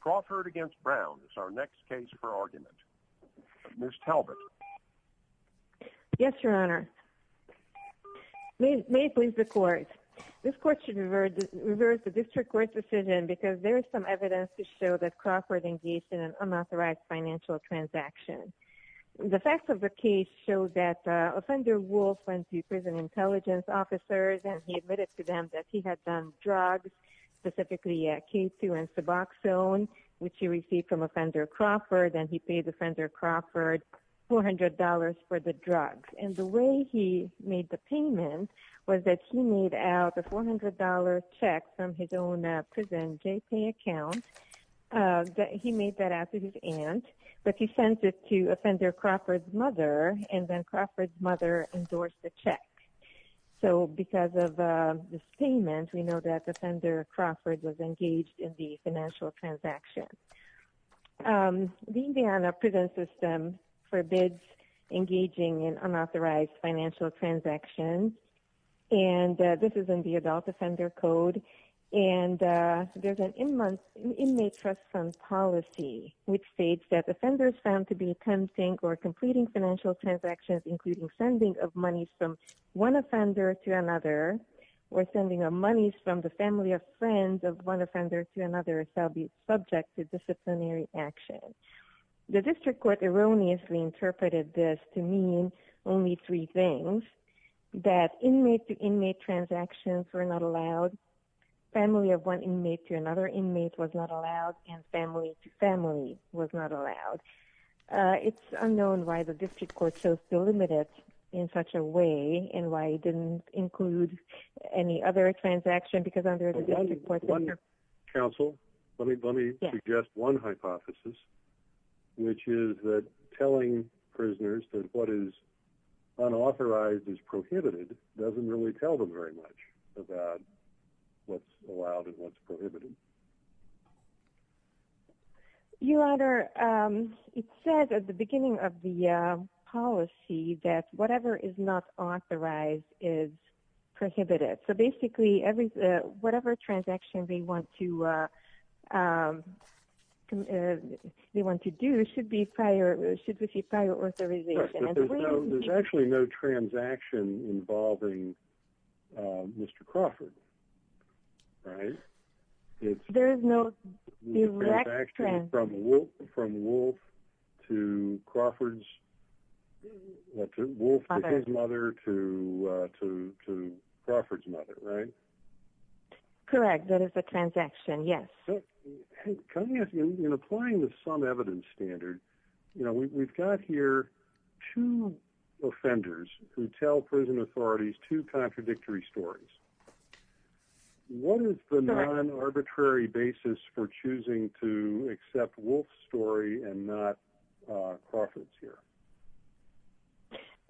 Crawford v. Brown is our next case for argument. Ms. Talbot. Yes, Your Honor. May it please the Court. This Court should reverse the District Court's decision because there is some evidence to show that Crawford engaged in an unauthorized financial transaction. The facts of the case show that Offender Wolf went to prison intelligence officers and he admitted to them that he had done drugs, specifically K2 and Suboxone, which he received from Offender Crawford, and he paid Offender Crawford $400 for the drugs. And the way he made the payment was that he made out a $400 check from his own prison J-Pay account. He made that out to his aunt, but he sent it to Offender Crawford's mother, and then Crawford's mother endorsed the check. So because of this payment, we know that Offender Crawford was engaged in the financial transaction. The Indiana prison system forbids engaging in unauthorized financial transactions, and this is in the Adult Offender Code. And there's an inmate trust fund policy, which states that offenders found to be attempting or completing financial transactions, including sending of monies from one offender to another, or sending of monies from the family of friends of one offender to another, shall be subject to disciplinary action. The district court erroneously interpreted this to mean only three things, that inmate-to-inmate transactions were not allowed, family-of-one inmate-to-another inmate was not allowed, and family-to-family was not allowed. It's unknown why the district court chose to limit it in such a way and why it didn't include any other transaction, because under the district court... Counsel, let me suggest one hypothesis, which is that telling prisoners that what is unauthorized is prohibited doesn't really tell them very much about what's allowed and what's prohibited. Your Honor, it says at the beginning of the policy that whatever is not authorized is prohibited. So basically, whatever transaction they want to do should receive prior authorization. There's actually no transaction involving Mr. Crawford, right? There is no direct transaction. From Wolf to Crawford's... Wolf to his mother to Crawford's mother, right? Correct, that is a transaction, yes. In applying the sum evidence standard, we've got here two offenders who tell prison authorities two contradictory stories. What is the non-arbitrary basis for choosing to accept Wolf's story and not Crawford's here?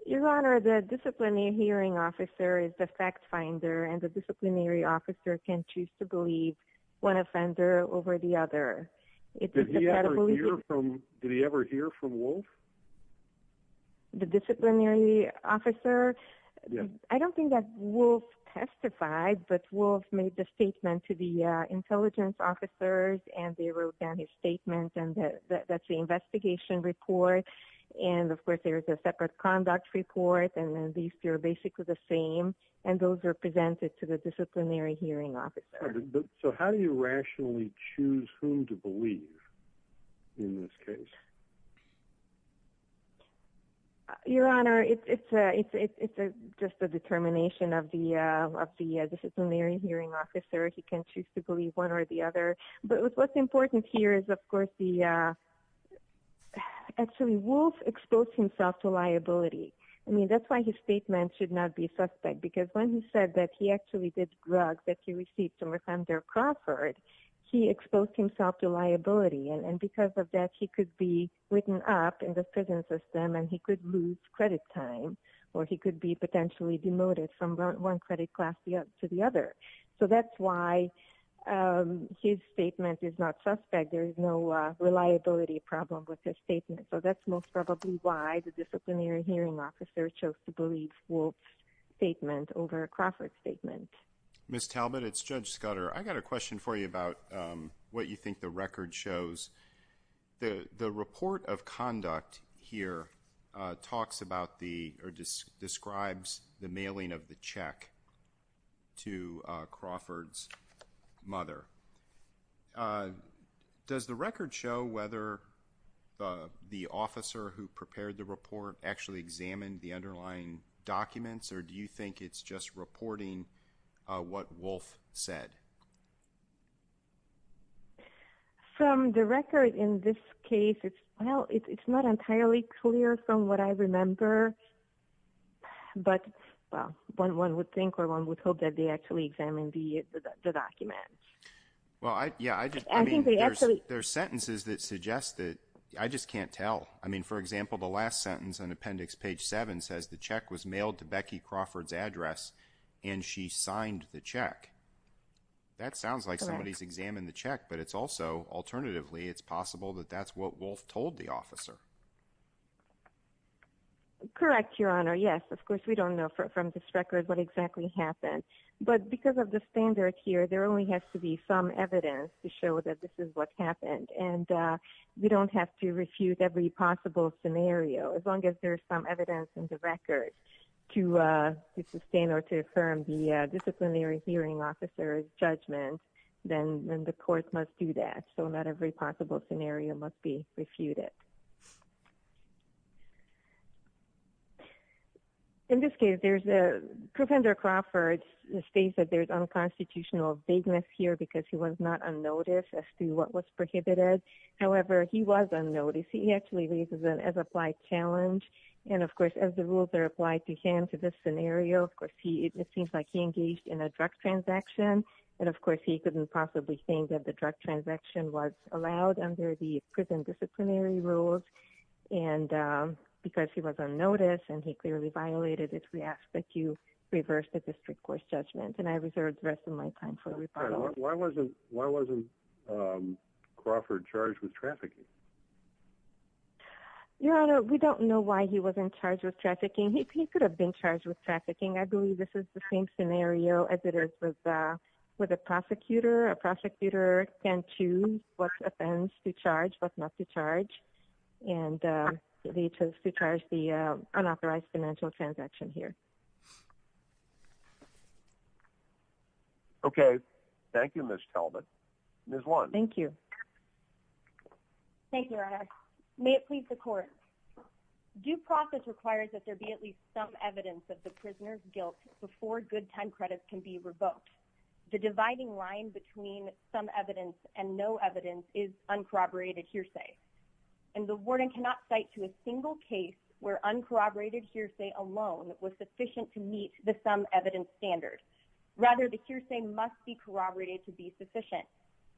Your Honor, the disciplinary hearing officer is the fact finder, and the disciplinary officer can choose to believe one offender over the other. Did he ever hear from Wolf? The disciplinary officer? I don't think that Wolf testified, but Wolf made the statement to the intelligence officers, and they wrote down his statement, and that's the investigation report. And, of course, there's a separate conduct report, and these two are basically the same, and those are presented to the disciplinary hearing officer. So how do you rationally choose whom to believe in this case? Your Honor, it's just a determination of the disciplinary hearing officer. He can choose to believe one or the other. But what's important here is, of course, actually Wolf exposed himself to liability. I mean, that's why his statement should not be suspect, because when he said that he actually did drugs that he received from Alexander Crawford, he exposed himself to liability. And because of that, he could be written up in the prison system, and he could lose credit time, or he could be potentially demoted from one credit class to the other. So that's why his statement is not suspect. There is no reliability problem with his statement. So that's most probably why the disciplinary hearing officer chose to believe Wolf's statement over Crawford's statement. Ms. Talbot, it's Judge Scudder. I've got a question for you about what you think the record shows. The report of conduct here talks about the or describes the mailing of the check to Crawford's mother. Does the record show whether the officer who prepared the report actually examined the underlying documents, or do you think it's just reporting what Wolf said? From the record in this case, it's not entirely clear from what I remember. But, well, one would think or one would hope that they actually examined the documents. Well, yeah. I mean, there's sentences that suggest that. I just can't tell. I mean, for example, the last sentence on Appendix Page 7 says the check was mailed to Becky Crawford's address, and she signed the check. That sounds like somebody's examined the check, but it's also, alternatively, it's possible that that's what Wolf told the officer. Correct, Your Honor. Yes. Of course, we don't know from this record what exactly happened. But because of the standard here, there only has to be some evidence to show that this is what happened. And we don't have to refute every possible scenario. As long as there's some evidence in the record to sustain or to affirm the disciplinary hearing officer's judgment, then the court must do that. So not every possible scenario must be refuted. In this case, there's a – Kruppender Crawford states that there's unconstitutional vagueness here because he was not unnoticed as to what was prohibited. However, he was unnoticed. He actually raises an as-applied challenge. And, of course, as the rules are applied to him to this scenario, of course, it seems like he engaged in a drug transaction. And, of course, he couldn't possibly think that the drug transaction was allowed under the prison disciplinary rules. And because he was unnoticed and he clearly violated it, we ask that you reverse the district court's judgment. And I reserve the rest of my time for rebuttal. Why wasn't Crawford charged with trafficking? Your Honor, we don't know why he wasn't charged with trafficking. He could have been charged with trafficking. I believe this is the same scenario as it is with a prosecutor. A prosecutor can choose what offense to charge, what not to charge. And they chose to charge the unauthorized financial transaction here. Okay. Thank you, Ms. Talbot. Ms. Lund. Thank you. Thank you, Your Honor. May it please the court. Due process requires that there be at least some evidence of the prisoner's guilt before good time credits can be revoked. The dividing line between some evidence and no evidence is uncorroborated hearsay. And the warden cannot cite to a single case where uncorroborated hearsay alone was sufficient to meet the some evidence standard. Rather, the hearsay must be corroborated to be sufficient.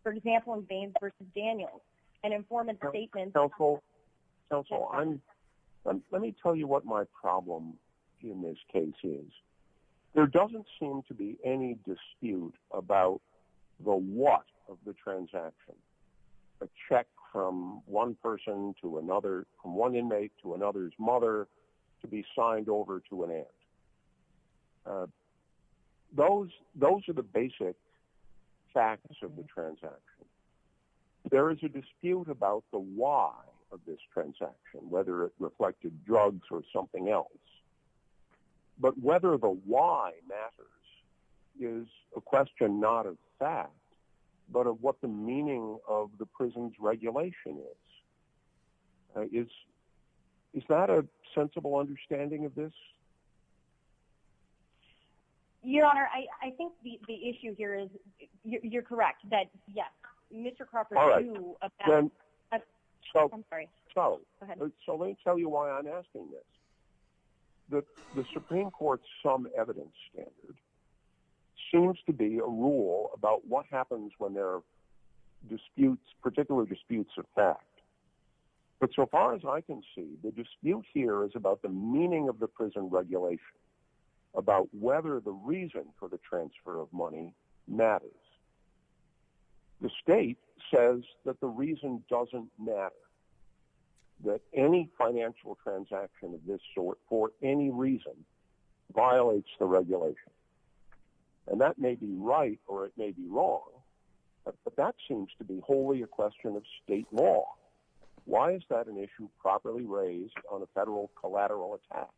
For example, in Baines v. Daniels, an informant's statement. Counsel, let me tell you what my problem in this case is. There doesn't seem to be any dispute about the what of the transaction, a check from one person to another, from one inmate to another's mother, to be signed over to an aunt. Those are the basic facts of the transaction. There is a dispute about the why of this transaction, whether it reflected drugs or something else. But whether the why matters is a question not of fact, but of what the meaning of the prison's regulation is. Is that a sensible understanding of this? Your Honor, I think the issue here is, you're correct, that, yes, Mr. Carper, you— All right. I'm sorry. Go ahead. So let me tell you why I'm asking this. The Supreme Court's some evidence standard seems to be a rule about what happens when there are disputes, particular disputes of fact. But so far as I can see, the dispute here is about the meaning of the prison regulation, about whether the reason for the transfer of money matters. The state says that the reason doesn't matter, that any financial transaction of this sort for any reason violates the regulation. And that may be right or it may be wrong, but that seems to be wholly a question of state law. Why is that an issue properly raised on a federal collateral attack?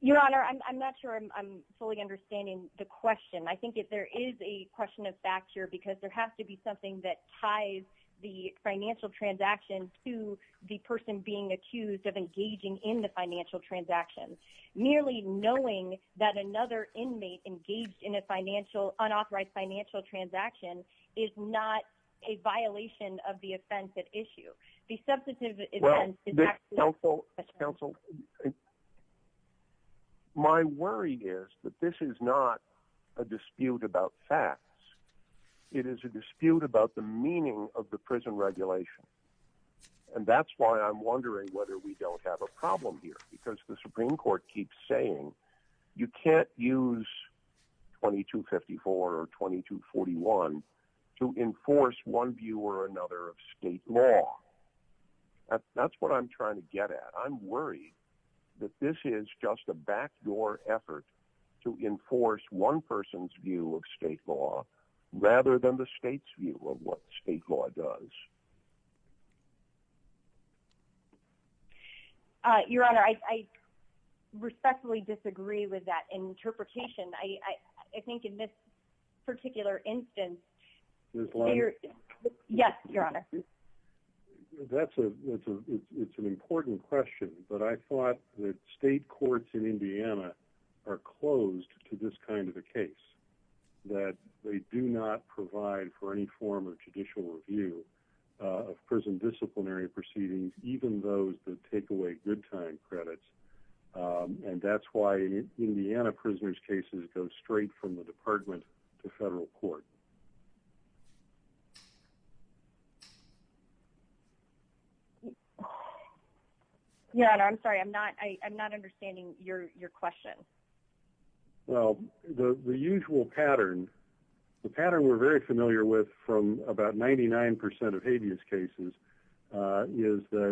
Your Honor, I'm not sure I'm fully understanding the question. I think there is a question of fact here because there has to be something that ties the financial transaction to the person being accused of engaging in the financial transaction. Nearly knowing that another inmate engaged in an unauthorized financial transaction is not a violation of the offense at issue. Well, counsel, my worry is that this is not a dispute about facts. It is a dispute about the meaning of the prison regulation. And that's why I'm wondering whether we don't have a problem here, because the Supreme Court keeps saying you can't use 2254 or 2241 to enforce one view or another of state law. That's what I'm trying to get at. I'm worried that this is just a backdoor effort to enforce one person's view of state law rather than the state's view of what state law does. Your Honor, I respectfully disagree with that interpretation. I think in this particular instance... Ms. Lyons? Yes, Your Honor. That's an important question, but I thought that state courts in Indiana are closed to this kind of a case. That they do not provide for any form of judicial review of prison disciplinary proceedings, even those that take away good time credits. And that's why Indiana prisoners' cases go straight from the department to federal court. Your Honor, I'm sorry. I'm not understanding your question. Well, the usual pattern... The pattern we're very familiar with from about 99% of habeas cases that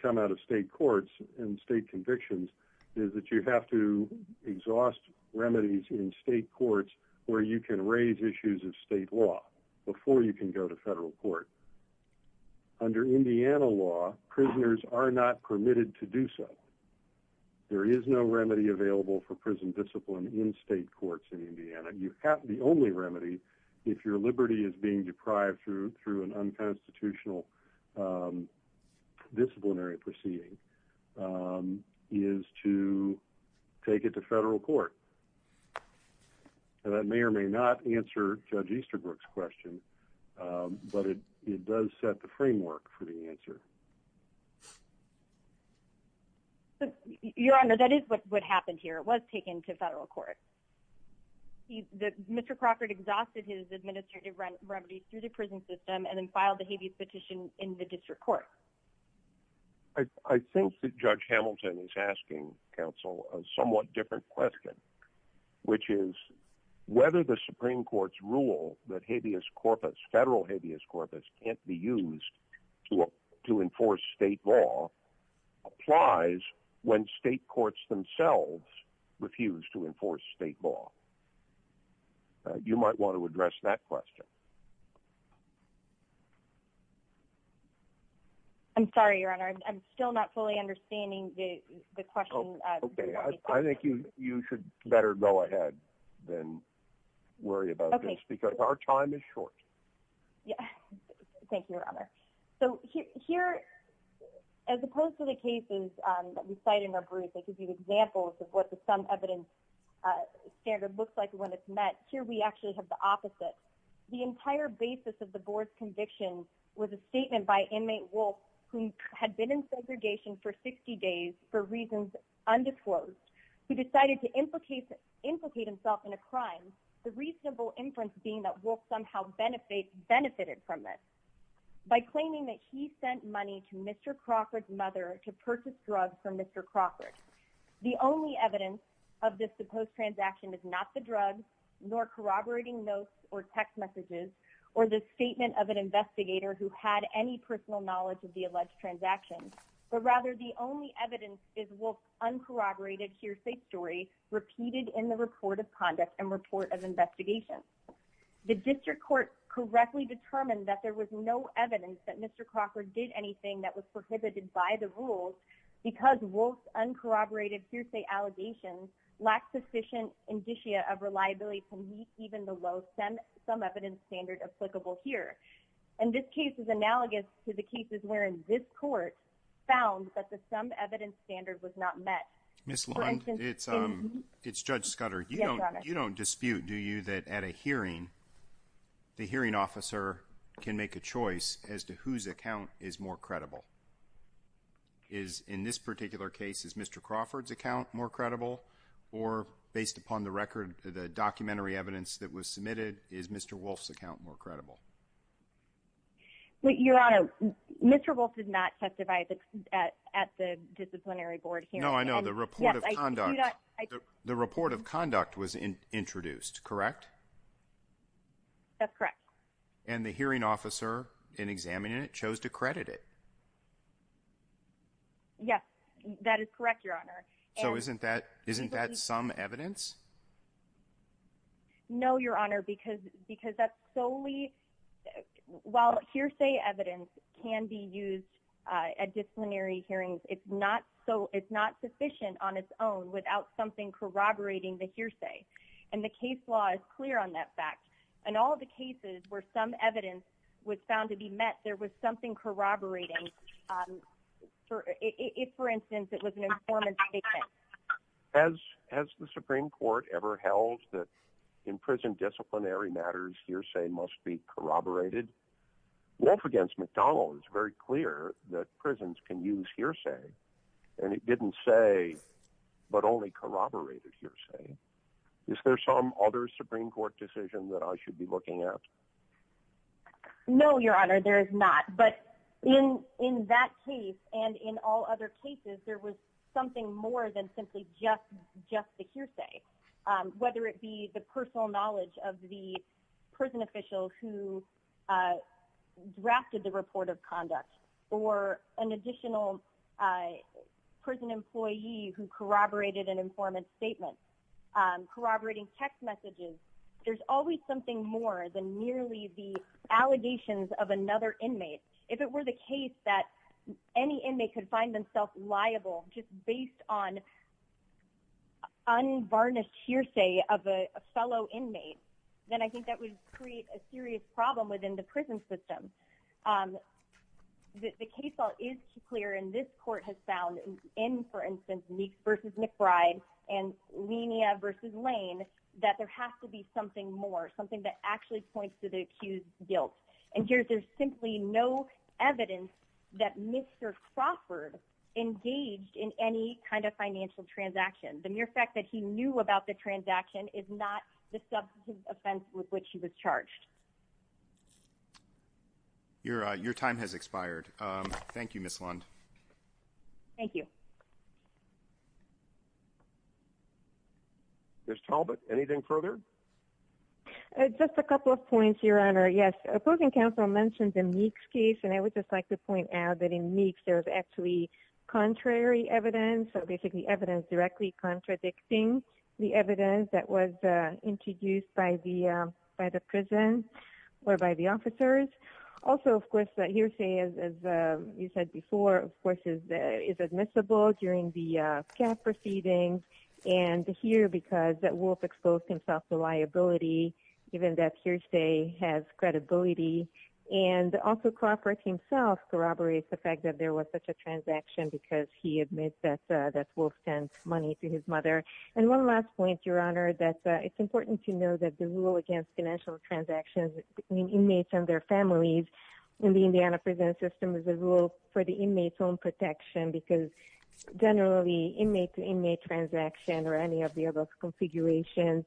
come out of state courts and state convictions is that you have to exhaust remedies in state courts where you can raise issues of state law before you can go to federal court. Under Indiana law, prisoners are not permitted to do so. There is no remedy available for prison discipline in state courts in Indiana. The only remedy, if your liberty is being deprived through an unconstitutional disciplinary proceeding, is to take it to federal court. That may or may not answer Judge Easterbrook's question, but it does set the framework for the answer. Your Honor, that is what happened here. It was taken to federal court. Mr. Crockert exhausted his administrative remedies through the prison system and then filed a habeas petition in the district court. I think that Judge Hamilton is asking, counsel, a somewhat different question, which is whether the Supreme Court's rule that federal habeas corpus can't be used to enforce state law applies when state courts themselves refuse to enforce state law. You might want to address that question. I'm sorry, Your Honor. I'm still not fully understanding the question. Okay. I think you should better go ahead than worry about this because our time is short. As opposed to the cases that we cite in our brief that give you examples of what the summed evidence standard looks like when it's met, here we actually have the opposite. The entire basis of the board's conviction was a statement by inmate Wolfe, who had been in segregation for 60 days for reasons undisclosed, who decided to implicate himself in a crime, the reasonable inference being that Wolfe somehow benefited from this. By claiming that he sent money to Mr. Crockert's mother to purchase drugs from Mr. Crockert. The only evidence of this supposed transaction is not the drugs, nor corroborating notes or text messages, or the statement of an investigator who had any personal knowledge of the alleged transaction. But rather, the only evidence is Wolfe's uncorroborated hearsay story repeated in the report of conduct and report of investigation. The district court correctly determined that there was no evidence that Mr. Crockert did anything that was prohibited by the rules. Because Wolfe's uncorroborated hearsay allegations lacked sufficient indicia of reliability to meet even the low summed evidence standard applicable here. And this case is analogous to the cases wherein this court found that the summed evidence standard was not met. Ms. Lund, it's Judge Scudder. You don't dispute, do you, that at a hearing, the hearing officer can make a choice as to whose account is more credible? Is, in this particular case, is Mr. Crawford's account more credible? Or, based upon the record, the documentary evidence that was submitted, is Mr. Wolfe's account more credible? Your Honor, Mr. Wolfe did not testify at the disciplinary board hearing. No, I know. The report of conduct was introduced, correct? That's correct. And the hearing officer, in examining it, chose to credit it? Yes, that is correct, Your Honor. So isn't that summed evidence? No, Your Honor, because that's solely... While hearsay evidence can be used at disciplinary hearings, it's not sufficient on its own without something corroborating the hearsay. And the case law is clear on that fact. In all the cases where some evidence was found to be met, there was something corroborating. If, for instance, it was an informant's statement. Has the Supreme Court ever held that in prison disciplinary matters, hearsay must be corroborated? Wolfe v. McDonald is very clear that prisons can use hearsay. And it didn't say, but only corroborated hearsay. Is there some other Supreme Court decision that I should be looking at? No, Your Honor, there is not. But in that case, and in all other cases, there was something more than simply just the hearsay. Whether it be the personal knowledge of the prison official who drafted the report of conduct, or an additional prison employee who corroborated an informant's statement, corroborating text messages, there's always something more than merely the allegations of another inmate. If it were the case that any inmate could find themselves liable just based on unvarnished hearsay of a fellow inmate, then I think that would create a serious problem within the prison system. The case law is clear, and this court has found in, for instance, Meeks v. McBride and Lenia v. Lane, that there has to be something more, something that actually points to the accused's guilt. And here there's simply no evidence that Mr. Crawford engaged in any kind of financial transaction. The mere fact that he knew about the transaction is not the substantive offense with which he was charged. Your time has expired. Thank you, Ms. Lund. Thank you. Ms. Talbot, anything further? Just a couple of points, Your Honor. Yes, opposing counsel mentioned the Meeks case, and I would just like to point out that in Meeks there was actually contrary evidence, so basically evidence directly contradicting the evidence that was introduced by the prison or by the officers. Also, of course, hearsay, as you said before, of course, is admissible during the SCAP proceedings, and here because Wolf exposed himself to liability, given that hearsay has credibility, and also Crawford himself corroborates the fact that there was such a transaction because he admits that Wolf sent money to his mother. And one last point, Your Honor, that it's important to know that the rule against financial transactions between inmates and their families in the Indiana prison system is a rule for the inmate's own protection because generally inmate-to-inmate transactions or any of the above configurations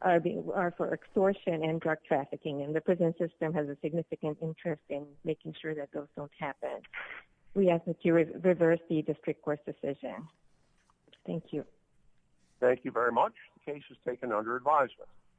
are for extortion and drug trafficking, and the prison system has a significant interest in making sure that those don't happen. We ask that you reverse the district court's decision. Thank you. Thank you very much. The case is taken under advisement.